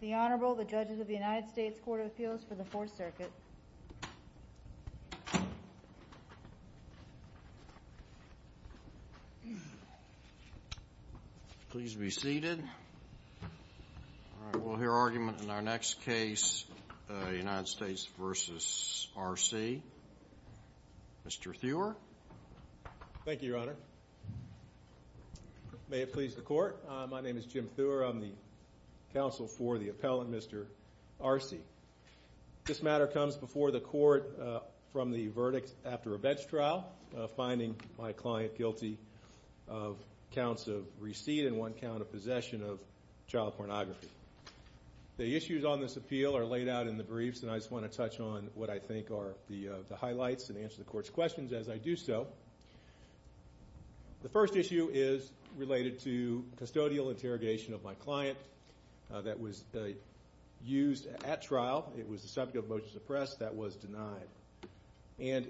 The Honorable, the Judges of the United States Court of Appeals for the Fourth Circuit. Please be seated. All right, we'll hear argument in our next case, United States v. Arce. Mr. Thuer. Thank you, Your Honor. May it please the Court, my name is Jim Thuer, I'm the counsel for the appellant, Mr. Arce. This matter comes before the Court from the verdict after a bench trial, finding my client guilty of counts of receipt and one count of possession of child pornography. The issues on this appeal are laid out in the briefs, and I just want to touch on what I think are the highlights and answer the Court's questions as I do so. The first issue is related to custodial interrogation of my client that was used at trial. It was the subject of a motion to press that was denied. And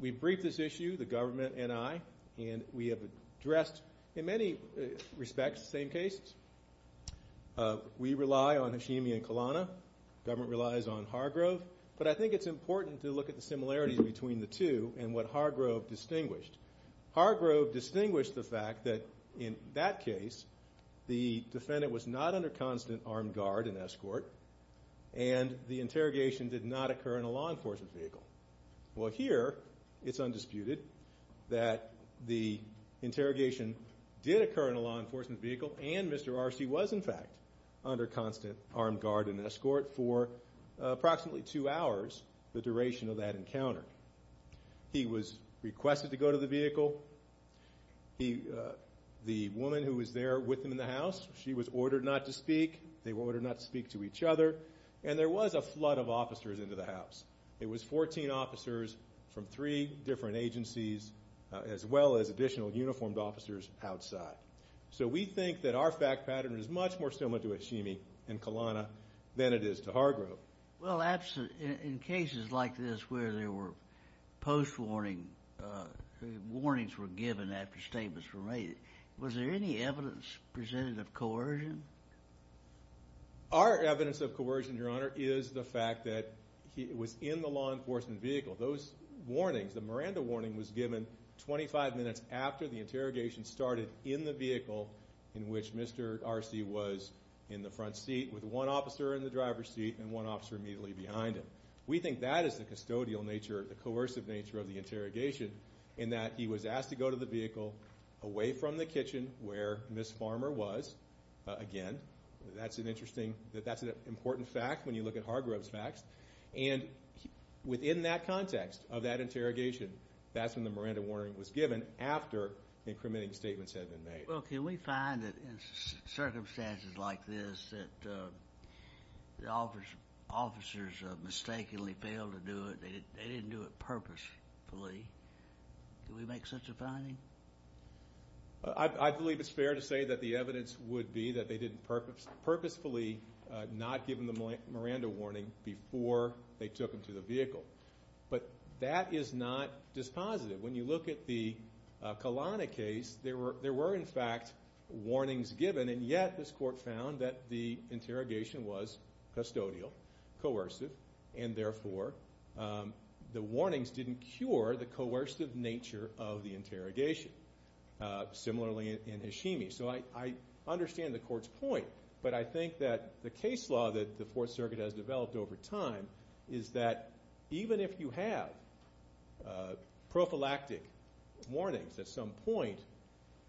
we briefed this issue, the government and I, and we have addressed in many respects the same cases. We rely on Hashimi and Kalana, government relies on Hargrove, but I think it's important to look at the similarities between the two and what Hargrove distinguished. Hargrove distinguished the fact that in that case, the defendant was not under constant armed guard and escort, and the interrogation did not occur in a law enforcement vehicle. Well, here, it's undisputed that the interrogation did occur in a law enforcement vehicle, and Mr. Arce was, in fact, under constant armed guard and escort for approximately two hours, the duration of that encounter. He was requested to go to the vehicle. The woman who was there with him in the house, she was ordered not to speak. They were ordered not to speak to each other. And there was a flood of officers into the house. It was 14 officers from three different agencies, as well as additional uniformed officers outside. So we think that our fact pattern is much more similar to Hashimi and Kalana than it is to Hargrove. Well, in cases like this where there were post-warning, warnings were given after statements were made, was there any evidence presented of coercion? Our evidence of coercion, Your Honor, is the fact that it was in the law enforcement vehicle. Those warnings, the Miranda warning was given 25 minutes after the interrogation started in the vehicle in which Mr. Arce was in the front seat with one officer in the driver's seat and one officer immediately behind him. We think that is the custodial nature, the coercive nature of the interrogation, in that he was asked to go to the vehicle away from the kitchen where Ms. Farmer was. Again, that's an interesting, that's an important fact when you look at Hargrove's facts. And within that context of that interrogation, that's when the Miranda warning was given after the incrementing statements had been made. Well, can we find that in circumstances like this that the officers mistakenly failed to do it, they didn't do it purposefully, can we make such a finding? I believe it's fair to say that the evidence would be that they didn't purposefully not give him the Miranda warning before they took him to the vehicle. But that is not dispositive. When you look at the Kalana case, there were, in fact, warnings given, and yet this court found that the interrogation was custodial, coercive, and therefore the warnings didn't cure the coercive nature of the interrogation, similarly in Hashimi. So I understand the court's point, but I think that the case law that the Fourth Circuit has developed over time is that even if you have prophylactic warnings at some point,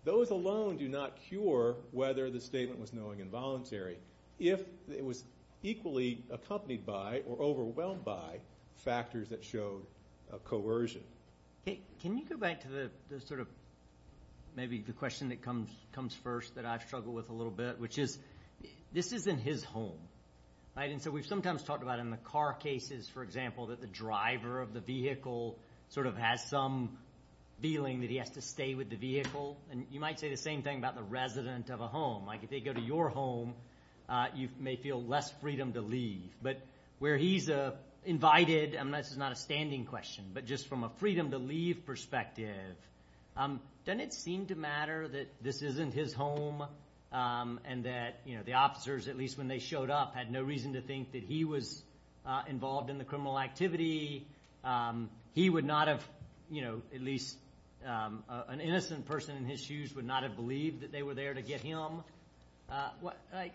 those alone do not cure whether the statement was knowing and voluntary if it was equally accompanied by or overwhelmed by factors that showed coercion. Can you go back to the sort of maybe the question that comes first that I struggle with a little bit, which is, this isn't his home, right? And so we've sometimes talked about in the car cases, for example, that the driver of the vehicle sort of has some feeling that he has to stay with the vehicle. And you might say the same thing about the resident of a home. Like if they go to your home, you may feel less freedom to leave. But where he's invited, and this is not a standing question, but just from a freedom to leave perspective, doesn't it seem to matter that this isn't his home, and that the officers, at least when they showed up, had no reason to think that he was involved in the criminal activity, he would not have, at least an innocent person in his shoes would not have believed that they were there to get him?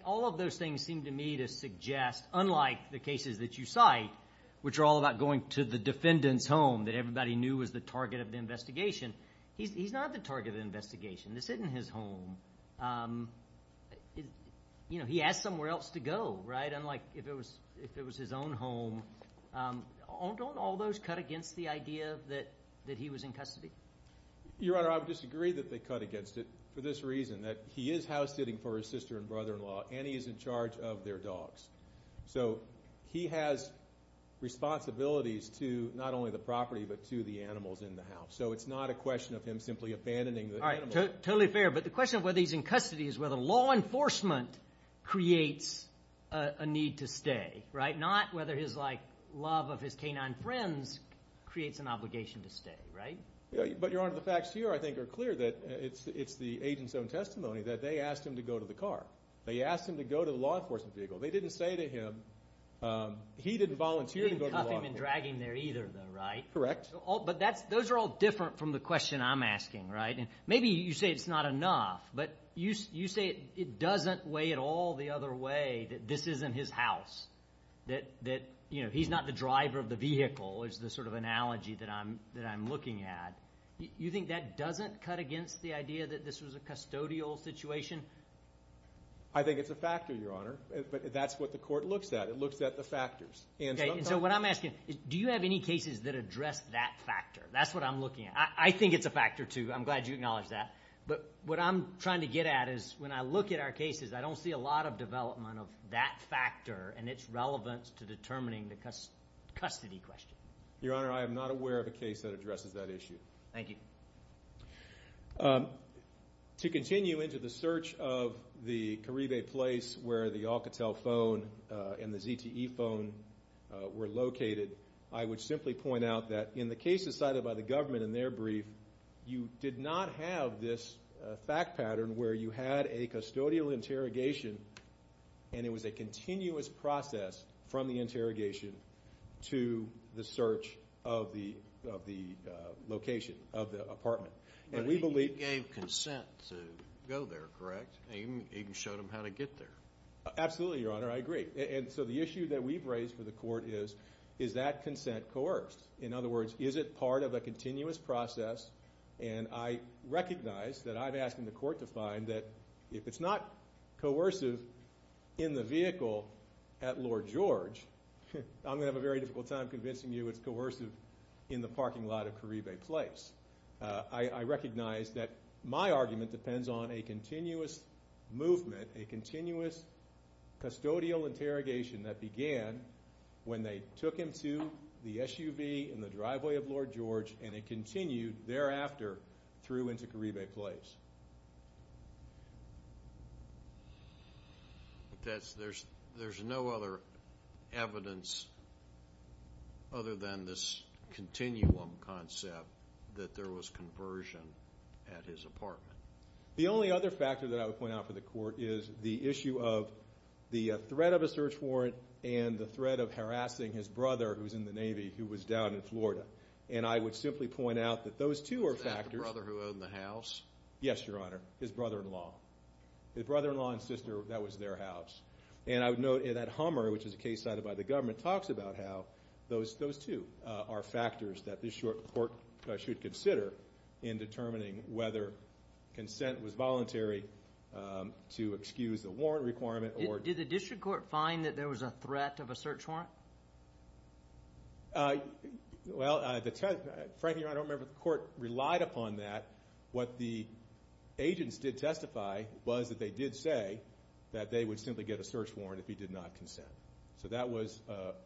All of those things seem to me to suggest, unlike the cases that you cite, which are all about going to the defendant's home that everybody knew was the target of the investigation, he's not the target of the investigation. This isn't his home. You know, he asked somewhere else to go, right? Unlike if it was his own home, don't all those cut against the idea that he was in custody? Your Honor, I would disagree that they cut against it for this reason, that he is house sitting for his sister and brother-in-law, and he is in charge of their dogs. So he has responsibilities to not only the property, but to the animals in the house. So it's not a question of him simply abandoning the animals. All right, totally fair. But the question of whether he's in custody is whether law enforcement creates a need to stay, right? Not whether his love of his canine friends creates an obligation to stay, right? But Your Honor, the facts here, I think, are clear that it's the agent's own testimony that they asked him to go to the car. They asked him to go to the law enforcement vehicle. They didn't say to him, he didn't volunteer to go to the law enforcement vehicle. They didn't cuff him and drag him there either, though, right? Correct. But those are all different from the question I'm asking, right? Maybe you say it's not enough, but you say it doesn't weigh at all the other way that this isn't his house, that, you know, he's not the driver of the vehicle is the sort of analogy that I'm looking at. You think that doesn't cut against the idea that this was a custodial situation? I think it's a factor, Your Honor, but that's what the court looks at. It looks at the factors. Okay, and so what I'm asking, do you have any cases that address that factor? That's what I'm looking at. I think it's a factor, too. I'm glad you acknowledged that. But what I'm trying to get at is when I look at our cases, I don't see a lot of development of that factor and its relevance to determining the custody question. Thank you. To continue into the search of the Carribe place where the Alcatel phone and the ZTE phone were located, I would simply point out that in the cases cited by the government in their brief, you did not have this fact pattern where you had a custodial interrogation and it was a continuous process from the interrogation to the search of the location of the apartment. You gave consent to go there, correct? You even showed them how to get there. Absolutely, Your Honor. I agree. And so the issue that we've raised for the court is, is that consent coerced? In other words, is it part of a continuous process? And I recognize that I'm asking the court to find that if it's not coercive in the vehicle at Lord George, I'm going to have a very difficult time convincing you it's coercive in the parking lot of Carribe Place. I recognize that my argument depends on a continuous movement, a continuous custodial interrogation that began when they took him to the SUV in the driveway of Lord George and it continued thereafter through into Carribe Place. There's no other evidence other than this continuum concept that there was conversion at his apartment. The only other factor that I would point out for the court is the issue of the threat of a search warrant and the threat of harassing his brother, who's in the Navy, who was down in Florida. And I would simply point out that those two are factors. Is that the brother who owned the house? Yes. Yes, Your Honor. His brother-in-law. His brother-in-law and sister, that was their house. And I would note that Hummer, which is a case cited by the government, talks about how those two are factors that this court should consider in determining whether consent was voluntary to excuse the warrant requirement or... Did the district court find that there was a threat of a search warrant? Well, frankly, Your Honor, I don't remember the court relied upon that. What the agents did testify was that they did say that they would simply get a search warrant if he did not consent. So that was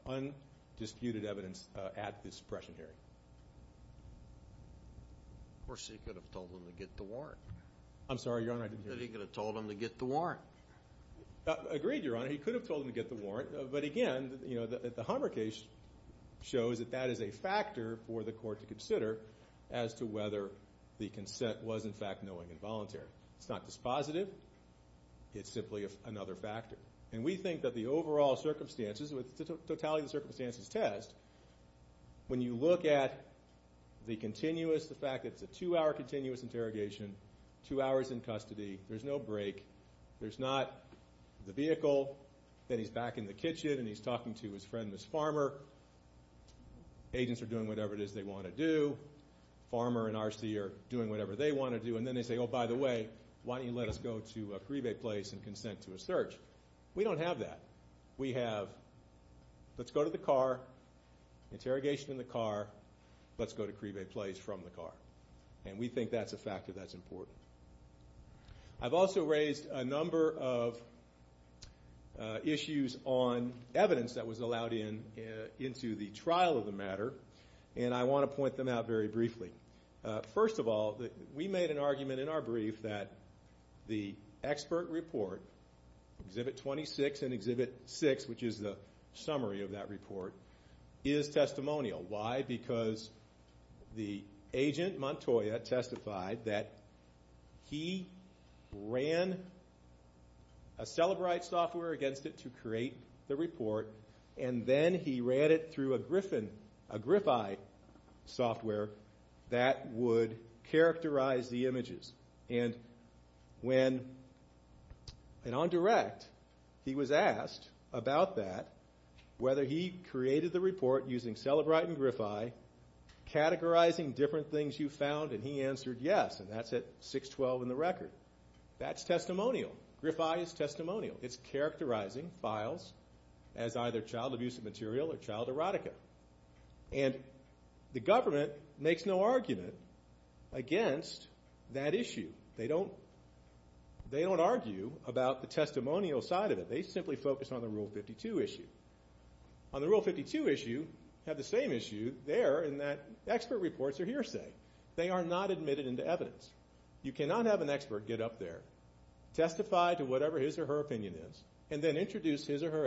undisputed evidence at this suppression hearing. Of course, he could have told them to get the warrant. I'm sorry, Your Honor, I didn't hear you. He could have told them to get the warrant. He could have told them to get the warrant. But again, the Hummer case shows that that is a factor for the court to consider as to whether the consent was, in fact, knowing and voluntary. It's not dispositive. It's simply another factor. And we think that the overall circumstances, with totality of the circumstances test, when you look at the continuous, the fact that it's a two-hour continuous interrogation, two hours in custody, there's no break, there's not the vehicle, then he's back in the kitchen and he's talking to his friend, Ms. Farmer. Agents are doing whatever it is they want to do. Farmer and R.C. are doing whatever they want to do. And then they say, oh, by the way, why don't you let us go to a Cribe place and consent to a search? We don't have that. We have, let's go to the car, interrogation in the car, let's go to Cribe place from the car. And we think that's a factor that's important. I've also raised a number of issues on evidence that was allowed into the trial of the matter, and I want to point them out very briefly. First of all, we made an argument in our brief that the expert report, Exhibit 26 and Exhibit 6, which is the summary of that report, is testimonial. Why? Because the agent, Montoya, testified that he ran a Celebrite software against it to create the report, and then he ran it through a Grify software that would characterize the images. And when, and on direct, he was asked about that, whether he created the report using Celebrite and Grify, categorizing different things you found, and he answered yes, and that's at 612 in the record. That's testimonial. Grify is testimonial. It's characterizing files as either child abuse material or child erotica. And the government makes no argument against that issue. They don't argue about the testimonial side of it. They simply focus on the Rule 52 issue. On the Rule 52 issue, you have the same issue there in that expert reports are hearsay. They are not admitted into evidence. You cannot have an expert get up there, testify to whatever his or her opinion is, and then introduce his or her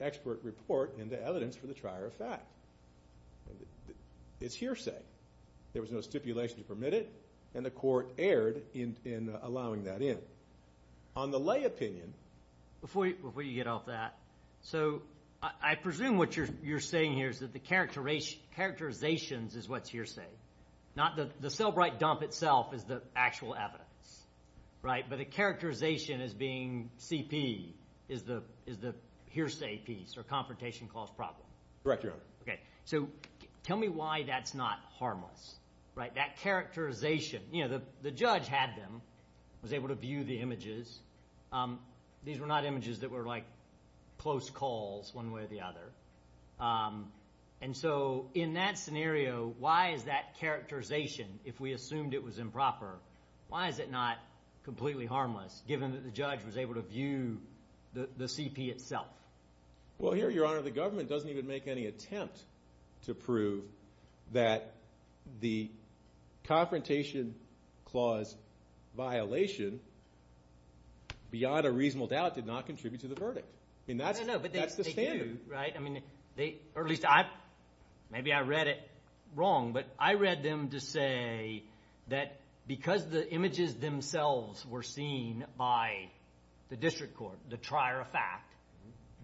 expert report into evidence for the trier of fact. It's hearsay. There was no stipulation to permit it, and the court erred in allowing that in. On the lay opinion. Before you get off that, so I presume what you're saying here is that the characterizations is what's hearsay, not the Celebrite dump itself is the actual evidence, right? But the characterization as being CP is the hearsay piece or confrontation clause problem. Correct, Your Honor. Okay. So tell me why that's not harmless, right? That characterization, you know, the judge had them, was able to view the images. These were not images that were like close calls one way or the other. And so in that scenario, why is that characterization, if we assumed it was improper, why is it not completely harmless given that the judge was able to view the CP itself? Well, here, Your Honor, the government doesn't even make any attempt to prove that the confrontation clause violation, beyond a reasonable doubt, did not contribute to the verdict. I mean, that's the standard. No, no, but they do, right? Maybe I read it wrong, but I read them to say that because the images themselves were seen by the district court, the trier of fact,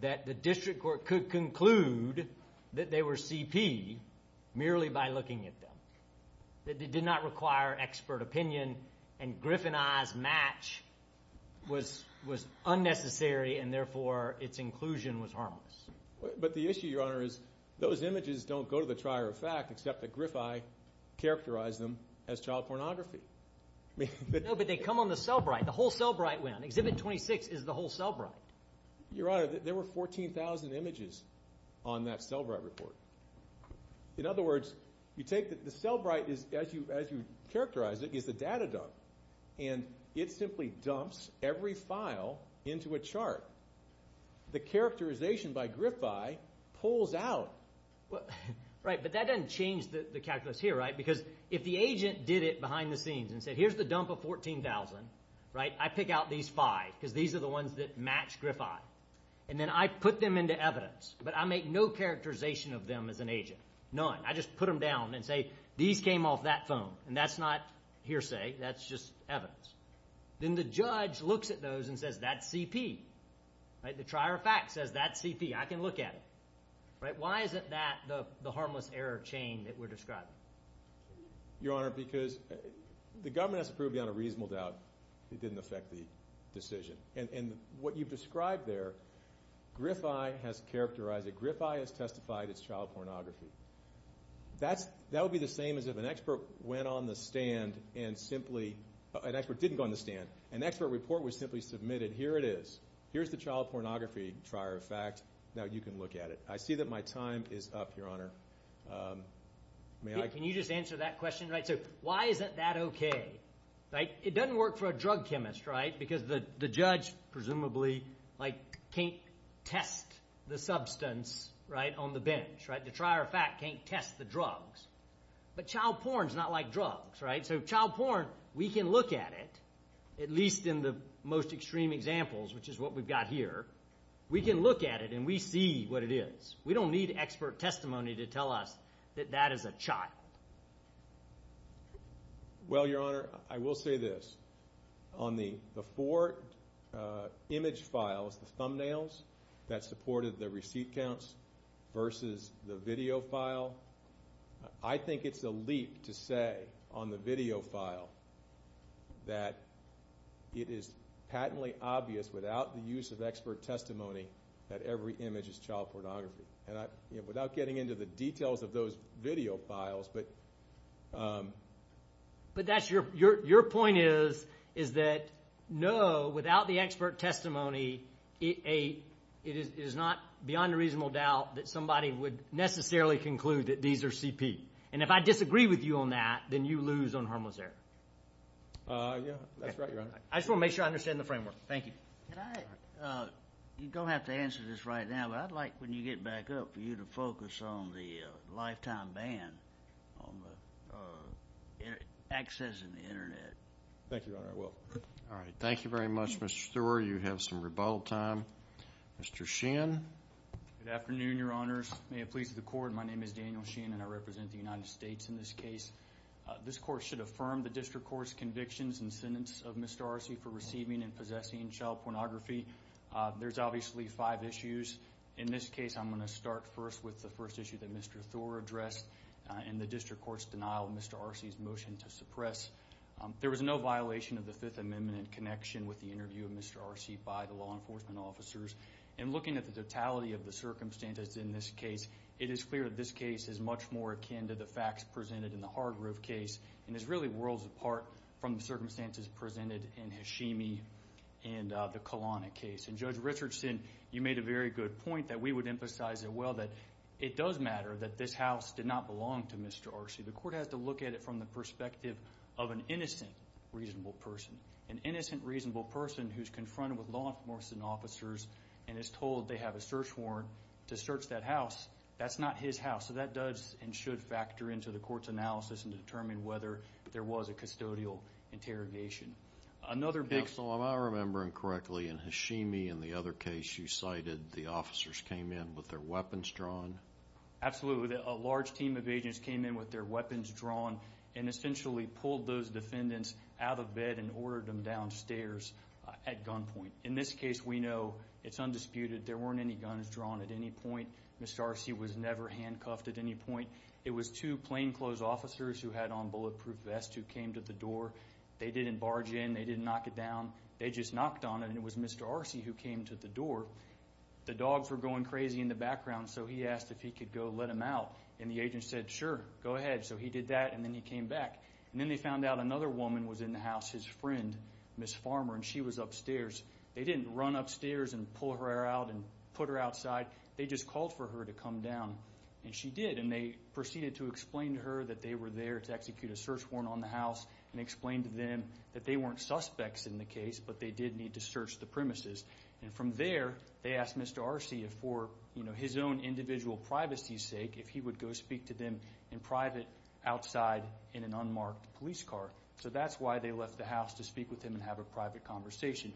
that the district court could conclude that they were CP merely by looking at them. It did not require expert opinion, and Griff and I's match was unnecessary, and therefore, its inclusion was harmless. But the issue, Your Honor, is those images don't go to the trier of fact, except that Griff and I characterized them as child pornography. No, but they come on the cellbrite. The whole cellbrite went on. Exhibit 26 is the whole cellbrite. Your Honor, there were 14,000 images on that cellbrite report. In other words, you take the cellbrite, as you characterize it, is the data dump, and it simply dumps every file into a chart. The characterization by Griff and I pulls out. Right, but that doesn't change the calculus here, right? Because if the agent did it behind the scenes and said, here's the dump of 14,000, right, I pick out these five because these are the ones that match Griff and I. And then I put them into evidence, but I make no characterization of them as an agent, none. I just put them down and say, these came off that phone. And that's not hearsay. That's just evidence. Then the judge looks at those and says, that's CP. The trier of fact says, that's CP. I can look at it. Why isn't that the harmless error chain that we're describing? Your Honor, because the government has to prove beyond a reasonable doubt it didn't affect the decision. And what you've described there, Griff I has characterized it. Griff I has testified it's child pornography. That would be the same as if an expert went on the stand and simply – an expert didn't go on the stand. An expert report was simply submitted. Here it is. Here's the child pornography trier of fact. Now you can look at it. I see that my time is up, Your Honor. Can you just answer that question, right? So why isn't that okay? It doesn't work for a drug chemist, right, because the judge presumably can't test the substance on the bench. The trier of fact can't test the drugs. But child porn is not like drugs, right? So child porn, we can look at it, at least in the most extreme examples, which is what we've got here. We can look at it and we see what it is. We don't need expert testimony to tell us that that is a child. Well, Your Honor, I will say this. On the four image files, the thumbnails that supported the receipt counts versus the video file, I think it's a leap to say on the video file that it is patently obvious without the use of expert testimony that every image is child pornography. Without getting into the details of those video files. But that's your point is, is that no, without the expert testimony, it is not beyond a reasonable doubt that somebody would necessarily conclude that these are CP. And if I disagree with you on that, then you lose on harmless error. Yeah, that's right, Your Honor. I just want to make sure I understand the framework. Thank you. You don't have to answer this right now, but I'd like when you get back up for you to focus on the lifetime ban on accessing the Internet. Thank you, Your Honor, I will. All right. Thank you very much, Mr. Stewart. You have some rebuttal time. Mr. Sheehan. Good afternoon, Your Honors. May it please the Court, my name is Daniel Sheehan and I represent the United States in this case. This court should affirm the district court's convictions and sentence of Mr. Arce for receiving and possessing child pornography. There's obviously five issues. In this case, I'm going to start first with the first issue that Mr. Thor addressed and the district court's denial of Mr. Arce's motion to suppress. There was no violation of the Fifth Amendment in connection with the interview of Mr. Arce by the law enforcement officers. And looking at the totality of the circumstances in this case, it is clear that this case is much more akin to the facts presented in the Hargrove case and is really worlds apart from the circumstances presented in Hashimi and the Kalana case. And Judge Richardson, you made a very good point that we would emphasize as well that it does matter that this house did not belong to Mr. Arce. The court has to look at it from the perspective of an innocent, reasonable person. An innocent, reasonable person who's confronted with law enforcement officers and is told they have a search warrant to search that house, that's not his house. So that does and should factor into the court's analysis and determine whether there was a custodial interrogation. Mr. Hicks, am I remembering correctly, in Hashimi and the other case you cited, the officers came in with their weapons drawn? Absolutely. A large team of agents came in with their weapons drawn and essentially pulled those defendants out of bed and ordered them downstairs at gunpoint. In this case, we know it's undisputed. There weren't any guns drawn at any point. Mr. Arce was never handcuffed at any point. It was two plainclothes officers who had on bulletproof vests who came to the door. They didn't barge in. They didn't knock it down. They just knocked on it, and it was Mr. Arce who came to the door. The dogs were going crazy in the background, so he asked if he could go let them out. And the agent said, sure, go ahead. So he did that, and then he came back. And then they found out another woman was in the house, his friend, Ms. Farmer, and she was upstairs. They didn't run upstairs and pull her out and put her outside. They just called for her to come down, and she did. And they proceeded to explain to her that they were there to execute a search warrant on the house and explained to them that they weren't suspects in the case, but they did need to search the premises. And from there, they asked Mr. Arce, for his own individual privacy's sake, if he would go speak to them in private outside in an unmarked police car. So that's why they left the house, to speak with him and have a private conversation.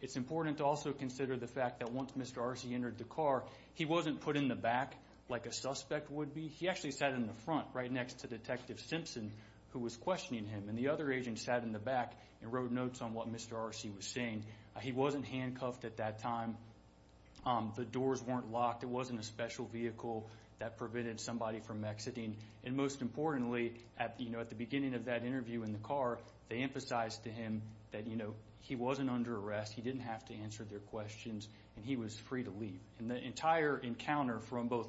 It's important to also consider the fact that once Mr. Arce entered the car, he wasn't put in the back like a suspect would be. He actually sat in the front, right next to Detective Simpson, who was questioning him. And the other agent sat in the back and wrote notes on what Mr. Arce was saying. He wasn't handcuffed at that time. The doors weren't locked. It wasn't a special vehicle that prevented somebody from exiting. And most importantly, at the beginning of that interview in the car, they emphasized to him that he wasn't under arrest, he didn't have to answer their questions, and he was free to leave. And the entire encounter from both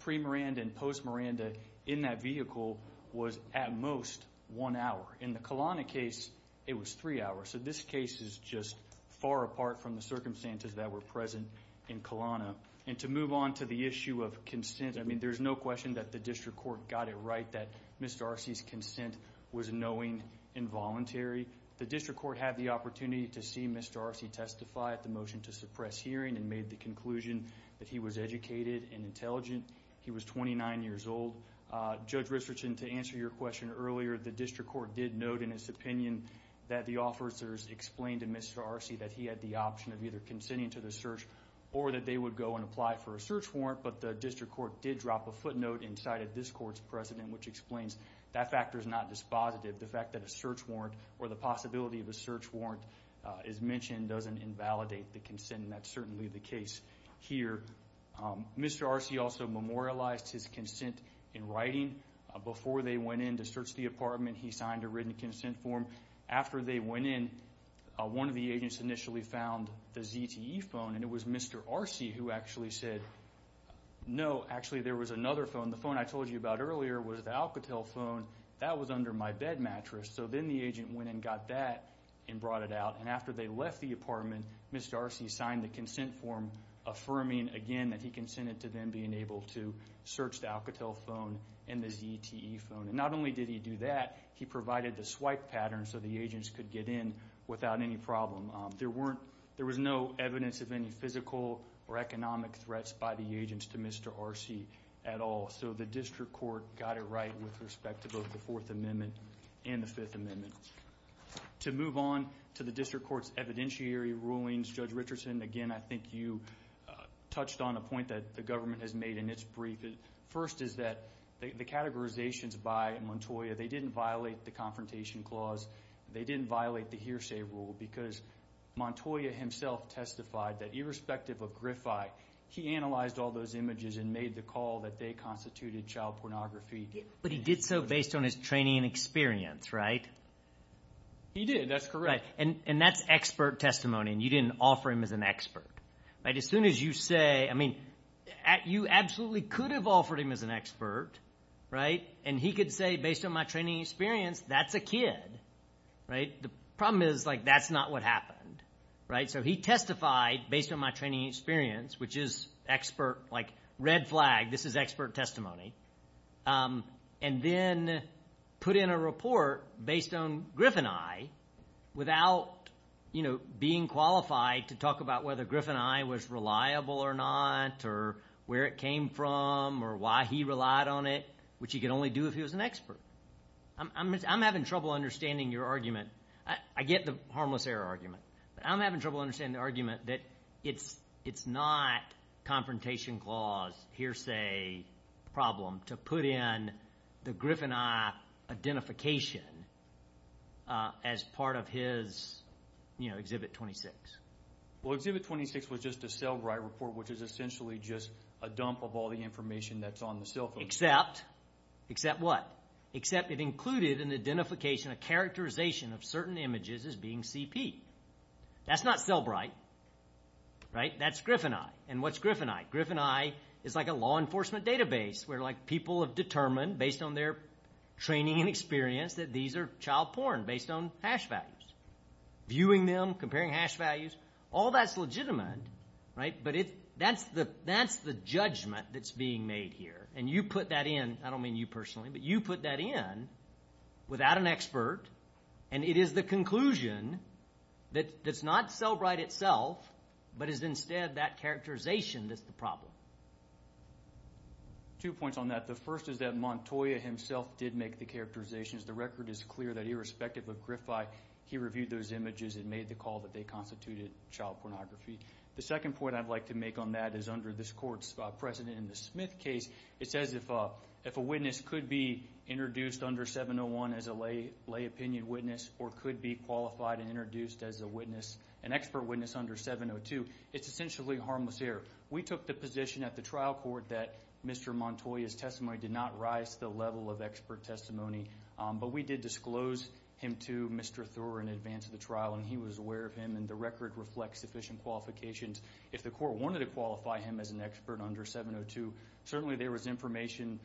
pre-Miranda and post-Miranda in that vehicle was at most one hour. In the Kalana case, it was three hours. So this case is just far apart from the circumstances that were present in Kalana. And to move on to the issue of consent, I mean, there's no question that the district court got it right that Mr. Arce's consent was knowing and voluntary. The district court had the opportunity to see Mr. Arce testify at the motion to suppress hearing and made the conclusion that he was educated and intelligent. He was 29 years old. Judge Richardson, to answer your question earlier, the district court did note in its opinion that the officers explained to Mr. Arce that he had the option of either consenting to the search or that they would go and apply for a search warrant, but the district court did drop a footnote inside of this court's precedent which explains that factor is not dispositive. The fact that a search warrant or the possibility of a search warrant is mentioned doesn't invalidate the consent, and that's certainly the case here. Mr. Arce also memorialized his consent in writing. Before they went in to search the apartment, he signed a written consent form. After they went in, one of the agents initially found the ZTE phone, and it was Mr. Arce who actually said, no, actually there was another phone. The phone I told you about earlier was the Alcatel phone. That was under my bed mattress. So then the agent went and got that and brought it out. And after they left the apartment, Mr. Arce signed the consent form, affirming again that he consented to them being able to search the Alcatel phone and the ZTE phone. Not only did he do that, he provided the swipe pattern so the agents could get in without any problem. There was no evidence of any physical or economic threats by the agents to Mr. Arce at all. So the district court got it right with respect to both the Fourth Amendment and the Fifth Amendment. To move on to the district court's evidentiary rulings, Judge Richardson, again, I think you touched on a point that the government has made in its brief. The first is that the categorizations by Montoya, they didn't violate the confrontation clause. They didn't violate the hearsay rule because Montoya himself testified that, irrespective of Griffi, he analyzed all those images and made the call that they constituted child pornography. But he did so based on his training and experience, right? He did. That's correct. And that's expert testimony, and you didn't offer him as an expert. As soon as you say, I mean, you absolutely could have offered him as an expert, right? And he could say, based on my training and experience, that's a kid, right? The problem is, like, that's not what happened, right? So he testified based on my training and experience, which is expert, like, red flag, this is expert testimony, and then put in a report based on Griff and I without, you know, being qualified to talk about whether Griff and I was reliable or not or where it came from or why he relied on it, which he could only do if he was an expert. I'm having trouble understanding your argument. I get the harmless error argument. But I'm having trouble understanding the argument that it's not confrontation clause, hearsay problem, to put in the Griff and I identification as part of his, you know, Exhibit 26. Well, Exhibit 26 was just a cell-write report, which is essentially just a dump of all the information that's on the cell phone. Except, except what? Except it included an identification, a characterization of certain images as being CP. That's not cell-write, right? That's Griff and I. And what's Griff and I? Griff and I is like a law enforcement database where, like, people have determined, based on their training and experience, that these are child porn based on hash values. Viewing them, comparing hash values, all that's legitimate, right? But that's the judgment that's being made here. And you put that in. I don't mean you personally, but you put that in without an expert, and it is the conclusion that it's not cell-write itself, but is instead that characterization that's the problem. Two points on that. The first is that Montoya himself did make the characterizations. The record is clear that irrespective of Griff I, he reviewed those images and made the call that they constituted child pornography. The second point I'd like to make on that is under this court's precedent in the Smith case, it says if a witness could be introduced under 701 as a lay opinion witness or could be qualified and introduced as an expert witness under 702, it's essentially harmless error. We took the position at the trial court that Mr. Montoya's testimony did not rise to the level of expert testimony, but we did disclose him to Mr. Thurr in advance of the trial, and he was aware of him, and the record reflects sufficient qualifications. If the court wanted to qualify him as an expert under 702, certainly there was information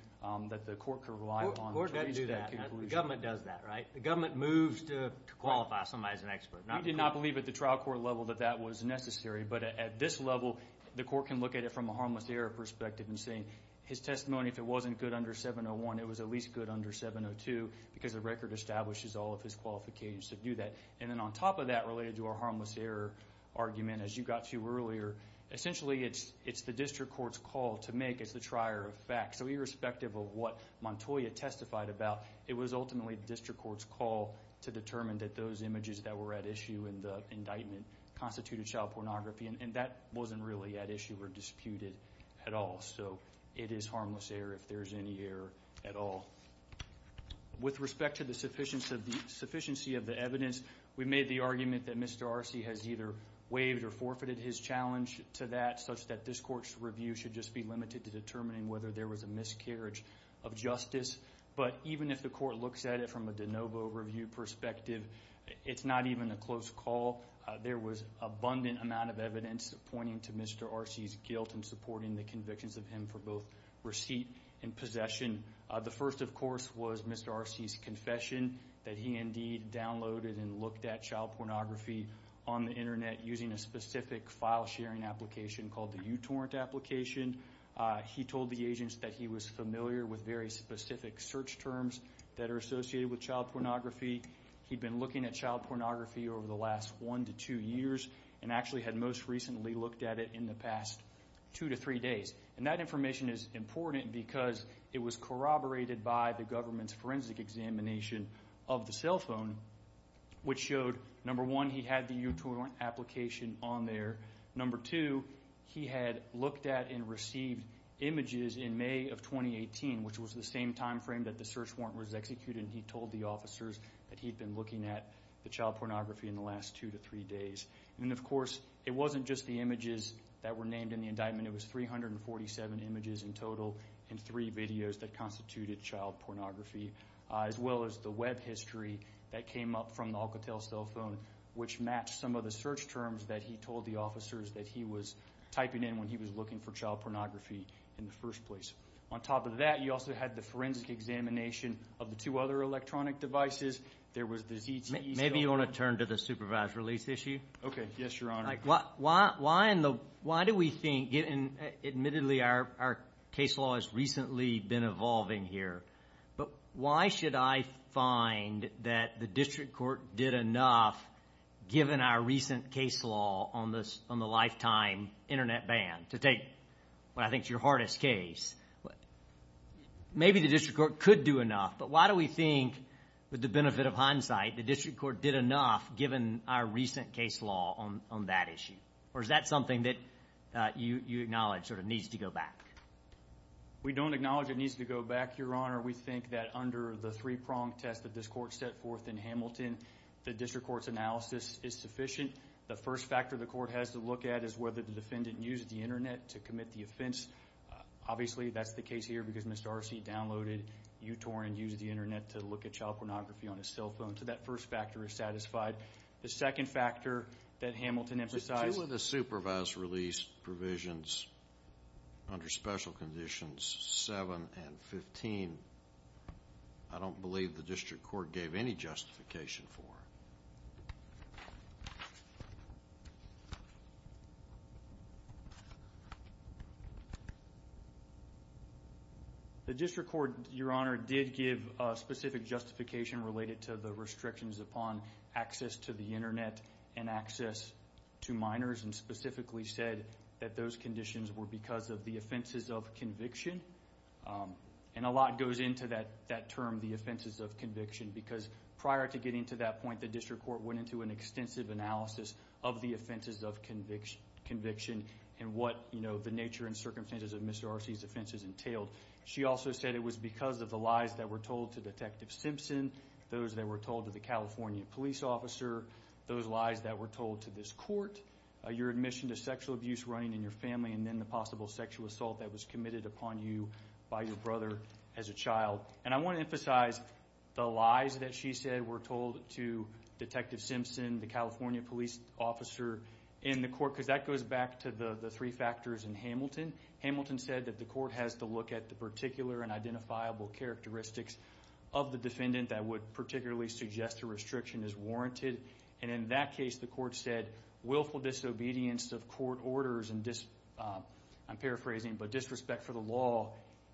that the court could rely on to reach that conclusion. The government does that, right? The government moves to qualify somebody as an expert. We did not believe at the trial court level that that was necessary, but at this level the court can look at it from a harmless error perspective and say his testimony, if it wasn't good under 701, it was at least good under 702 because the record establishes all of his qualifications to do that. And then on top of that, related to our harmless error argument, as you got to earlier, essentially it's the district court's call to make as the trier of facts. So irrespective of what Montoya testified about, it was ultimately the district court's call to determine that those images that were at issue in the indictment constituted child pornography, and that wasn't really at issue or disputed at all. So it is harmless error if there's any error at all. With respect to the sufficiency of the evidence, we made the argument that Mr. Arce has either waived or forfeited his challenge to that such that this court's review should just be limited to determining whether there was a miscarriage of justice. But even if the court looks at it from a de novo review perspective, it's not even a close call. There was abundant amount of evidence pointing to Mr. Arce's guilt in supporting the convictions of him for both receipt and possession. The first, of course, was Mr. Arce's confession, that he indeed downloaded and looked at child pornography on the Internet using a specific file-sharing application called the uTorrent application. He told the agents that he was familiar with very specific search terms that are associated with child pornography. He'd been looking at child pornography over the last one to two years and actually had most recently looked at it in the past two to three days. And that information is important because it was corroborated by the government's forensic examination of the cell phone, which showed, number one, he had the uTorrent application on there. Number two, he had looked at and received images in May of 2018, which was the same time frame that the search warrant was executed. He told the officers that he'd been looking at the child pornography in the last two to three days. And, of course, it wasn't just the images that were named in the indictment. It was 347 images in total and three videos that constituted child pornography, as well as the Web history that came up from the Alcatel cell phone, which matched some of the search terms that he told the officers that he was typing in when he was looking for child pornography in the first place. On top of that, you also had the forensic examination of the two other electronic devices. There was the ZTE cell phone. Maybe you want to turn to the supervised release issue. Okay. Yes, Your Honor. Why do we think, admittedly, our case law has recently been evolving here, but why should I find that the district court did enough, given our recent case law on the lifetime Internet ban, to take what I think is your hardest case? Maybe the district court could do enough, but why do we think, with the benefit of hindsight, the district court did enough, given our recent case law on that issue? Or is that something that you acknowledge sort of needs to go back? We don't acknowledge it needs to go back, Your Honor. We think that under the three-prong test that this court set forth in Hamilton, the district court's analysis is sufficient. The first factor the court has to look at is whether the defendant used the Internet to commit the offense. Obviously, that's the case here because Mr. Arce downloaded uTorrent and used the Internet to look at child pornography on his cell phone. So that first factor is satisfied. The second factor that Hamilton emphasized – The two of the supervised release provisions under special conditions 7 and 15, I don't believe the district court gave any justification for. The district court, Your Honor, did give a specific justification related to the restrictions upon access to the Internet and access to minors and specifically said that those conditions were because of the offenses of conviction. And a lot goes into that term, the offenses of conviction, because prior to getting to that point, the district court went into an extensive analysis of the offenses of conviction and what the nature and circumstances of Mr. Arce's offenses entailed. She also said it was because of the lies that were told to Detective Simpson, those that were told to the California police officer, those lies that were told to this court, your admission to sexual abuse running in your family, and then the possible sexual assault that was committed upon you by your brother as a child. And I want to emphasize the lies that she said were told to Detective Simpson, the California police officer in the court, because that goes back to the three factors in Hamilton. Hamilton said that the court has to look at the particular and identifiable characteristics of the defendant that would particularly suggest a restriction is warranted. And in that case, the court said, willful disobedience of court orders and – I'm paraphrasing – but disrespect for the law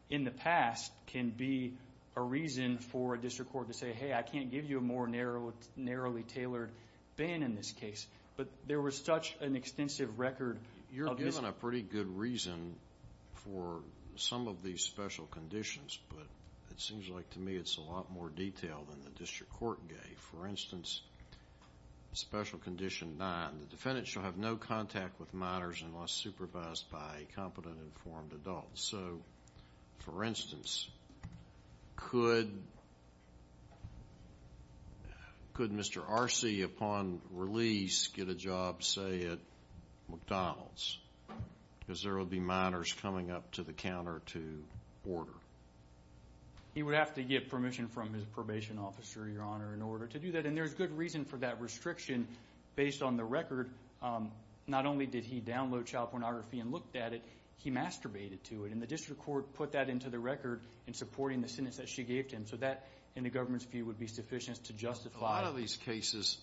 in the past can be a reason for a district court to say, hey, I can't give you a more narrowly tailored ban in this case. But there was such an extensive record of this. You're given a pretty good reason for some of these special conditions, but it seems like to me it's a lot more detailed than the district court gave. For instance, Special Condition 9, the defendant shall have no contact with minors unless supervised by a competent, informed adult. So, for instance, could Mr. Arce upon release get a job, say, at McDonald's? Because there would be minors coming up to the counter to order. He would have to get permission from his probation officer, Your Honor, in order to do that. But then there's good reason for that restriction based on the record. Not only did he download child pornography and looked at it, he masturbated to it. And the district court put that into the record in supporting the sentence that she gave to him. So that, in the government's view, would be sufficient to justify. A lot of these cases,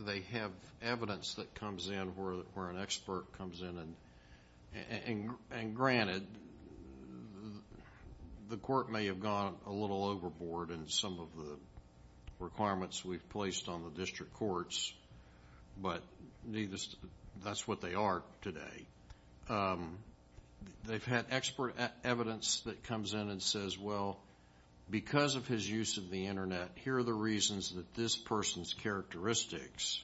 they have evidence that comes in where an expert comes in. And granted, the court may have gone a little overboard in some of the requirements we've placed on the district courts, but that's what they are today. They've had expert evidence that comes in and says, well, because of his use of the Internet, here are the reasons that this person's characteristics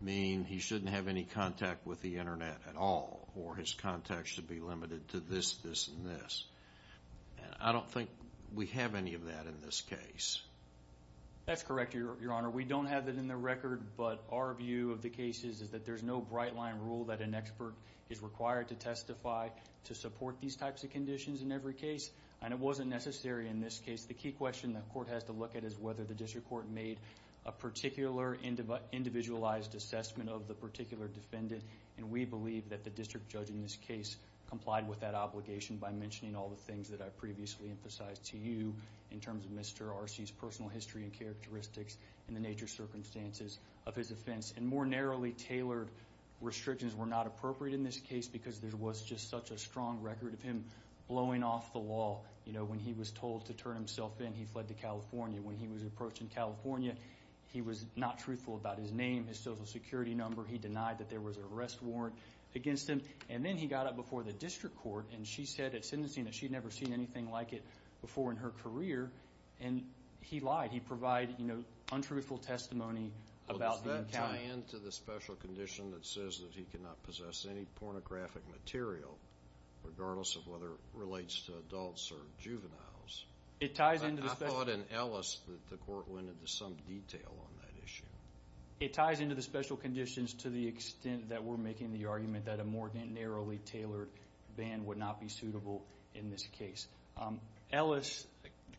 mean he shouldn't have any contact with the Internet at all, or his contact should be limited to this, this, and this. I don't think we have any of that in this case. That's correct, Your Honor. We don't have that in the record, but our view of the case is that there's no bright line rule that an expert is required to testify to support these types of conditions in every case. And it wasn't necessary in this case. The key question the court has to look at is whether the district court made a particular individualized assessment of the particular defendant. And we believe that the district judge in this case complied with that obligation by mentioning all the things that I previously emphasized to you in terms of Mr. Arce's personal history and characteristics and the nature of circumstances of his offense. And more narrowly tailored restrictions were not appropriate in this case because there was just such a strong record of him blowing off the wall. When he was told to turn himself in, he fled to California. When he was approached in California, he was not truthful about his name, his Social Security number. He denied that there was an arrest warrant against him. And then he got up before the district court and she said at sentencing that she had never seen anything like it before in her career, and he lied. He provided, you know, untruthful testimony about the encounter. Does that tie into the special condition that says that he cannot possess any pornographic material, regardless of whether it relates to adults or juveniles? I thought in Ellis that the court went into some detail on that issue. It ties into the special conditions to the extent that we're making the argument that a more narrowly tailored ban would not be suitable in this case. Ellis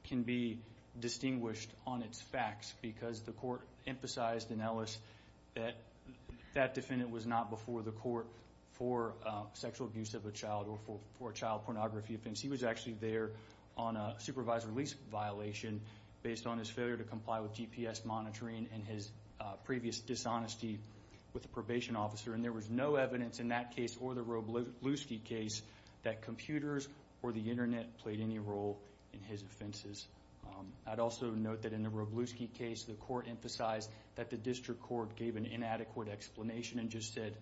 can be distinguished on its facts because the court emphasized in Ellis that that defendant was not before the court for sexual abuse of a child or for a child pornography offense. He was actually there on a supervisor lease violation based on his failure to comply with GPS monitoring and his previous dishonesty with a probation officer. And there was no evidence in that case or the Roblewski case that computers or the Internet played any role in his offenses. I'd also note that in the Roblewski case, the court emphasized that the district court gave an inadequate explanation and just said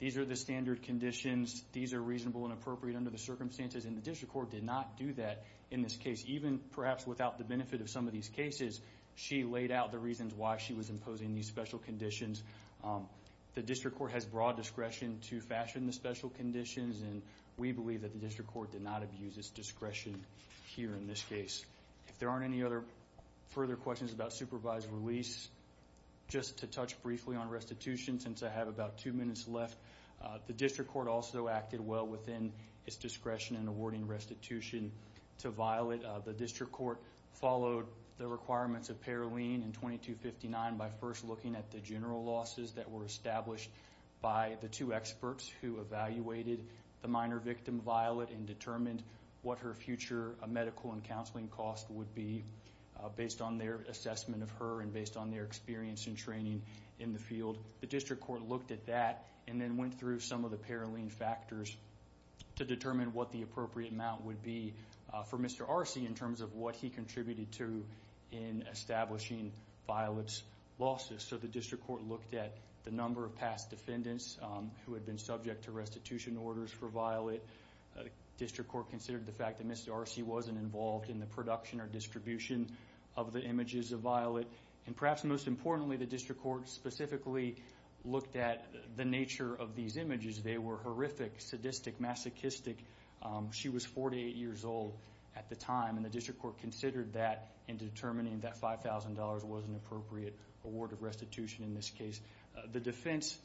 these are the standard conditions, these are reasonable and appropriate under the circumstances. And the district court did not do that in this case. Even perhaps without the benefit of some of these cases, she laid out the reasons why she was imposing these special conditions. The district court has broad discretion to fashion the special conditions, and we believe that the district court did not abuse its discretion here in this case. If there aren't any other further questions about supervised release, just to touch briefly on restitution since I have about two minutes left, the district court also acted well within its discretion in awarding restitution to Violet. The district court followed the requirements of Paroline in 2259 by first looking at the general losses that were established by the two experts who evaluated the minor victim, Violet, and determined what her future medical and counseling costs would be based on their assessment of her and based on their experience and training in the field. The district court looked at that and then went through some of the Paroline factors to determine what the appropriate amount would be for Mr. Arcee in terms of what he contributed to in establishing Violet's losses. So the district court looked at the number of past defendants who had been subject to restitution orders for Violet. The district court considered the fact that Mr. Arcee wasn't involved in the production or distribution of the images of Violet. And perhaps most importantly, the district court specifically looked at the nature of these images. They were horrific, sadistic, masochistic. She was 48 years old at the time, and the district court considered that in determining that $5,000 was an appropriate award of restitution in this case. The defense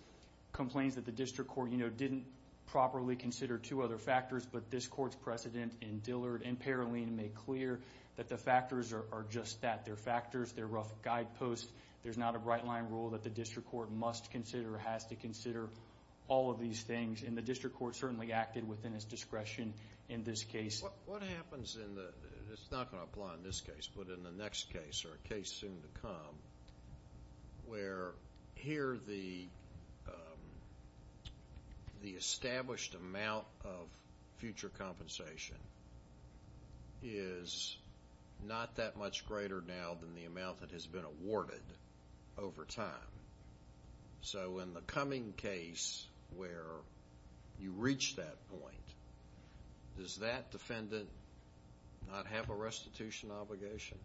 complains that the district court didn't properly consider two other factors, but this court's precedent in Dillard and Paroline made clear that the factors are just that. They're factors. They're rough guideposts. There's not a right-line rule that the district court must consider or has to consider all of these things, and the district court certainly acted within its discretion in this case. What happens in the next case, or a case soon to come, where here the established amount of future compensation is not that much greater now than the amount that has been awarded over time? So in the coming case where you reach that point, does that defendant not have a restitution obligation?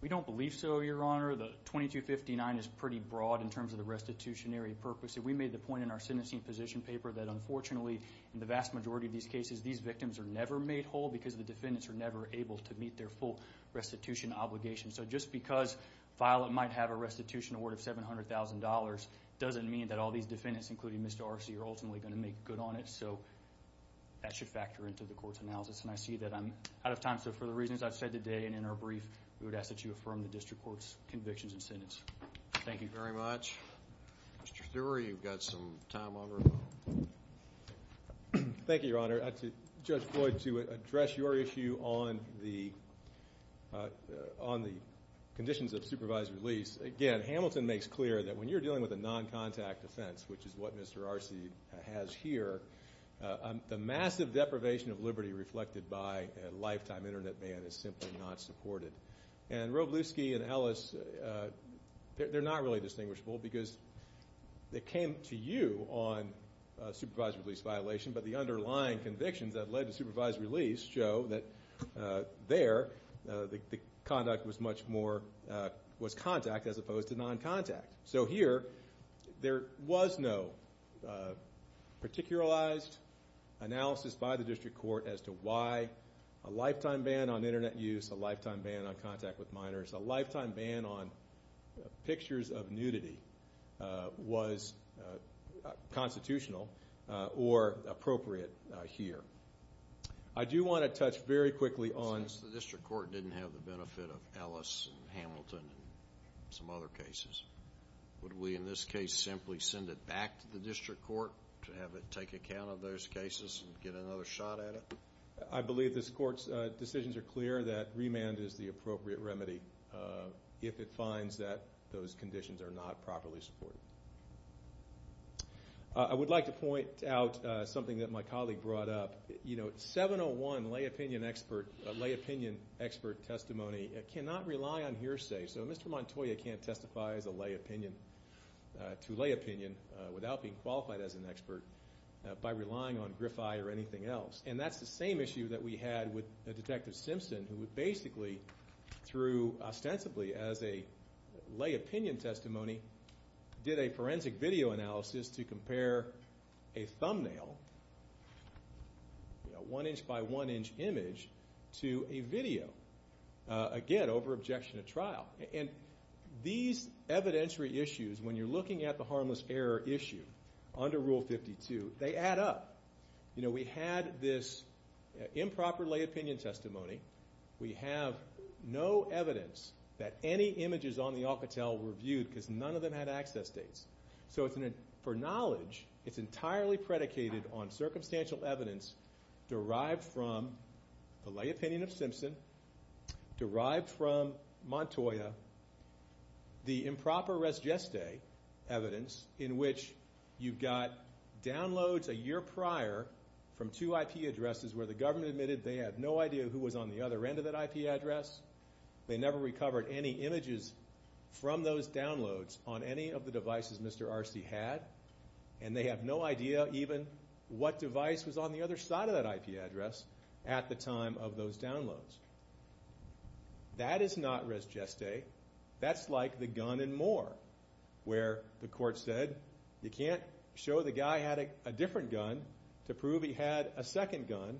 We don't believe so, Your Honor. The 2259 is pretty broad in terms of the restitutionary purpose. We made the point in our sentencing position paper that, unfortunately, in the vast majority of these cases, these victims are never made whole because the defendants are never able to meet their full restitution obligation. So just because Violet might have a restitution award of $700,000 doesn't mean that all these defendants, including Mr. Arce, are ultimately going to make good on it. So that should factor into the court's analysis, and I see that I'm out of time. So for the reasons I've said today and in our brief, we would ask that you affirm the district court's convictions and sentence. Thank you very much. Mr. Thurer, you've got some time over. Thank you, Your Honor. Judge Floyd, to address your issue on the conditions of supervised release, again, Hamilton makes clear that when you're dealing with a non-contact offense, which is what Mr. Arce has here, the massive deprivation of liberty reflected by a lifetime Internet ban is simply not supported. And Roblewski and Ellis, they're not really distinguishable because they came to you on a supervised release violation, but the underlying convictions that led to supervised release show that there, the conduct was much more contact as opposed to non-contact. So here, there was no particularized analysis by the district court as to why a lifetime ban on Internet use, a lifetime ban on contact with minors, a lifetime ban on pictures of nudity was constitutional or appropriate here. I do want to touch very quickly on... Since the district court didn't have the benefit of Ellis and Hamilton and some other cases, would we in this case simply send it back to the district court to have it take account of those cases and get another shot at it? I believe this court's decisions are clear that remand is the appropriate remedy if it finds that those conditions are not properly supported. I would like to point out something that my colleague brought up. You know, 701 lay opinion expert testimony cannot rely on hearsay. So Mr. Montoya can't testify as a lay opinion, to lay opinion, without being qualified as an expert by relying on GRIFI or anything else. And that's the same issue that we had with Detective Simpson, who would basically, through ostensibly as a lay opinion testimony, did a forensic video analysis to compare a thumbnail, a one-inch by one-inch image, to a video. Again, over objection to trial. And these evidentiary issues, when you're looking at the harmless error issue under Rule 52, they add up. You know, we had this improper lay opinion testimony. We have no evidence that any images on the Alcatel were viewed, because none of them had access dates. So for knowledge, it's entirely predicated on circumstantial evidence derived from the lay opinion of Simpson, derived from Montoya, the improper res geste evidence, in which you've got downloads a year prior from two IP addresses where the government admitted they had no idea who was on the other end of that IP address. They never recovered any images from those downloads on any of the devices Mr. Arce had. And they have no idea even what device was on the other side of that IP address at the time of those downloads. That is not res geste. That's like the gun and more, where the court said, you can't show the guy had a different gun to prove he had a second gun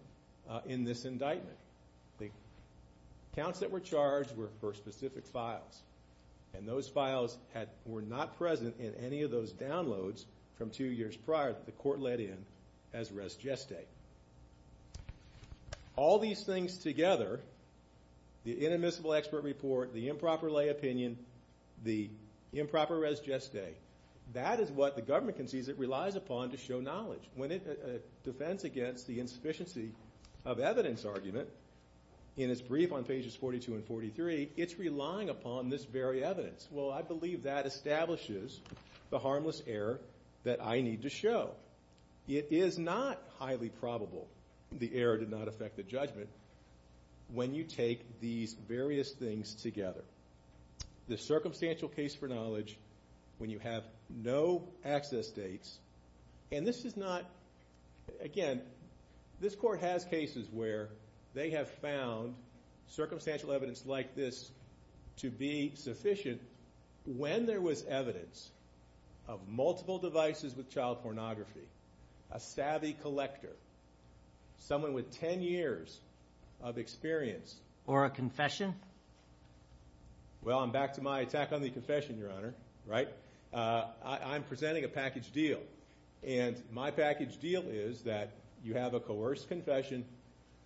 in this indictment. The counts that were charged were for specific files. And those files were not present in any of those downloads from two years prior that the court let in as res geste. All these things together, the inadmissible expert report, the improper lay opinion, the improper res geste, that is what the government concedes it relies upon to show knowledge. When it defends against the insufficiency of evidence argument in its brief on pages 42 and 43, it's relying upon this very evidence. Well, I believe that establishes the harmless error that I need to show. It is not highly probable the error did not affect the judgment when you take these various things together. The circumstantial case for knowledge when you have no access dates, and this is not, again, this court has cases where they have found circumstantial evidence like this to be sufficient when there was evidence of multiple devices with child pornography, a savvy collector, someone with 10 years of experience. Or a confession? Well, I'm back to my attack on the confession, Your Honor. Right? I'm presenting a package deal, and my package deal is that you have a coerced confession,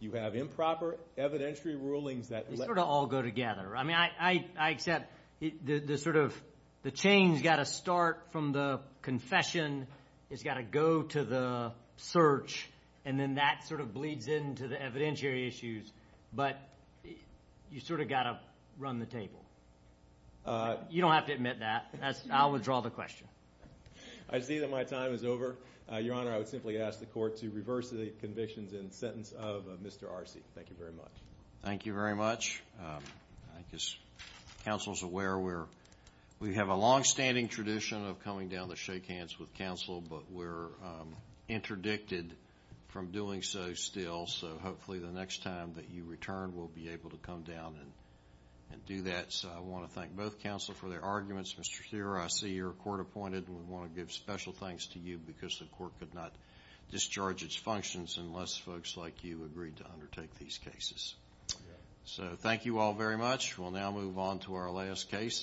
you have improper evidentiary rulings that let you. They sort of all go together. I mean, I accept the sort of the chain's got to start from the confession. It's got to go to the search, and then that sort of bleeds into the evidentiary issues. But you sort of got to run the table. You don't have to admit that. I'll withdraw the question. I see that my time is over. Your Honor, I would simply ask the court to reverse the convictions in the sentence of Mr. Arce. Thank you very much. Thank you very much. I guess counsel is aware we have a longstanding tradition of coming down to shake hands with counsel, but we're interdicted from doing so still. So hopefully the next time that you return, we'll be able to come down and do that. So I want to thank both counsel for their arguments. Mr. Thurer, I see you're court-appointed, and we want to give special thanks to you because the court could not discharge its functions unless folks like you agreed to undertake these cases. So thank you all very much. We'll now move on to our last case.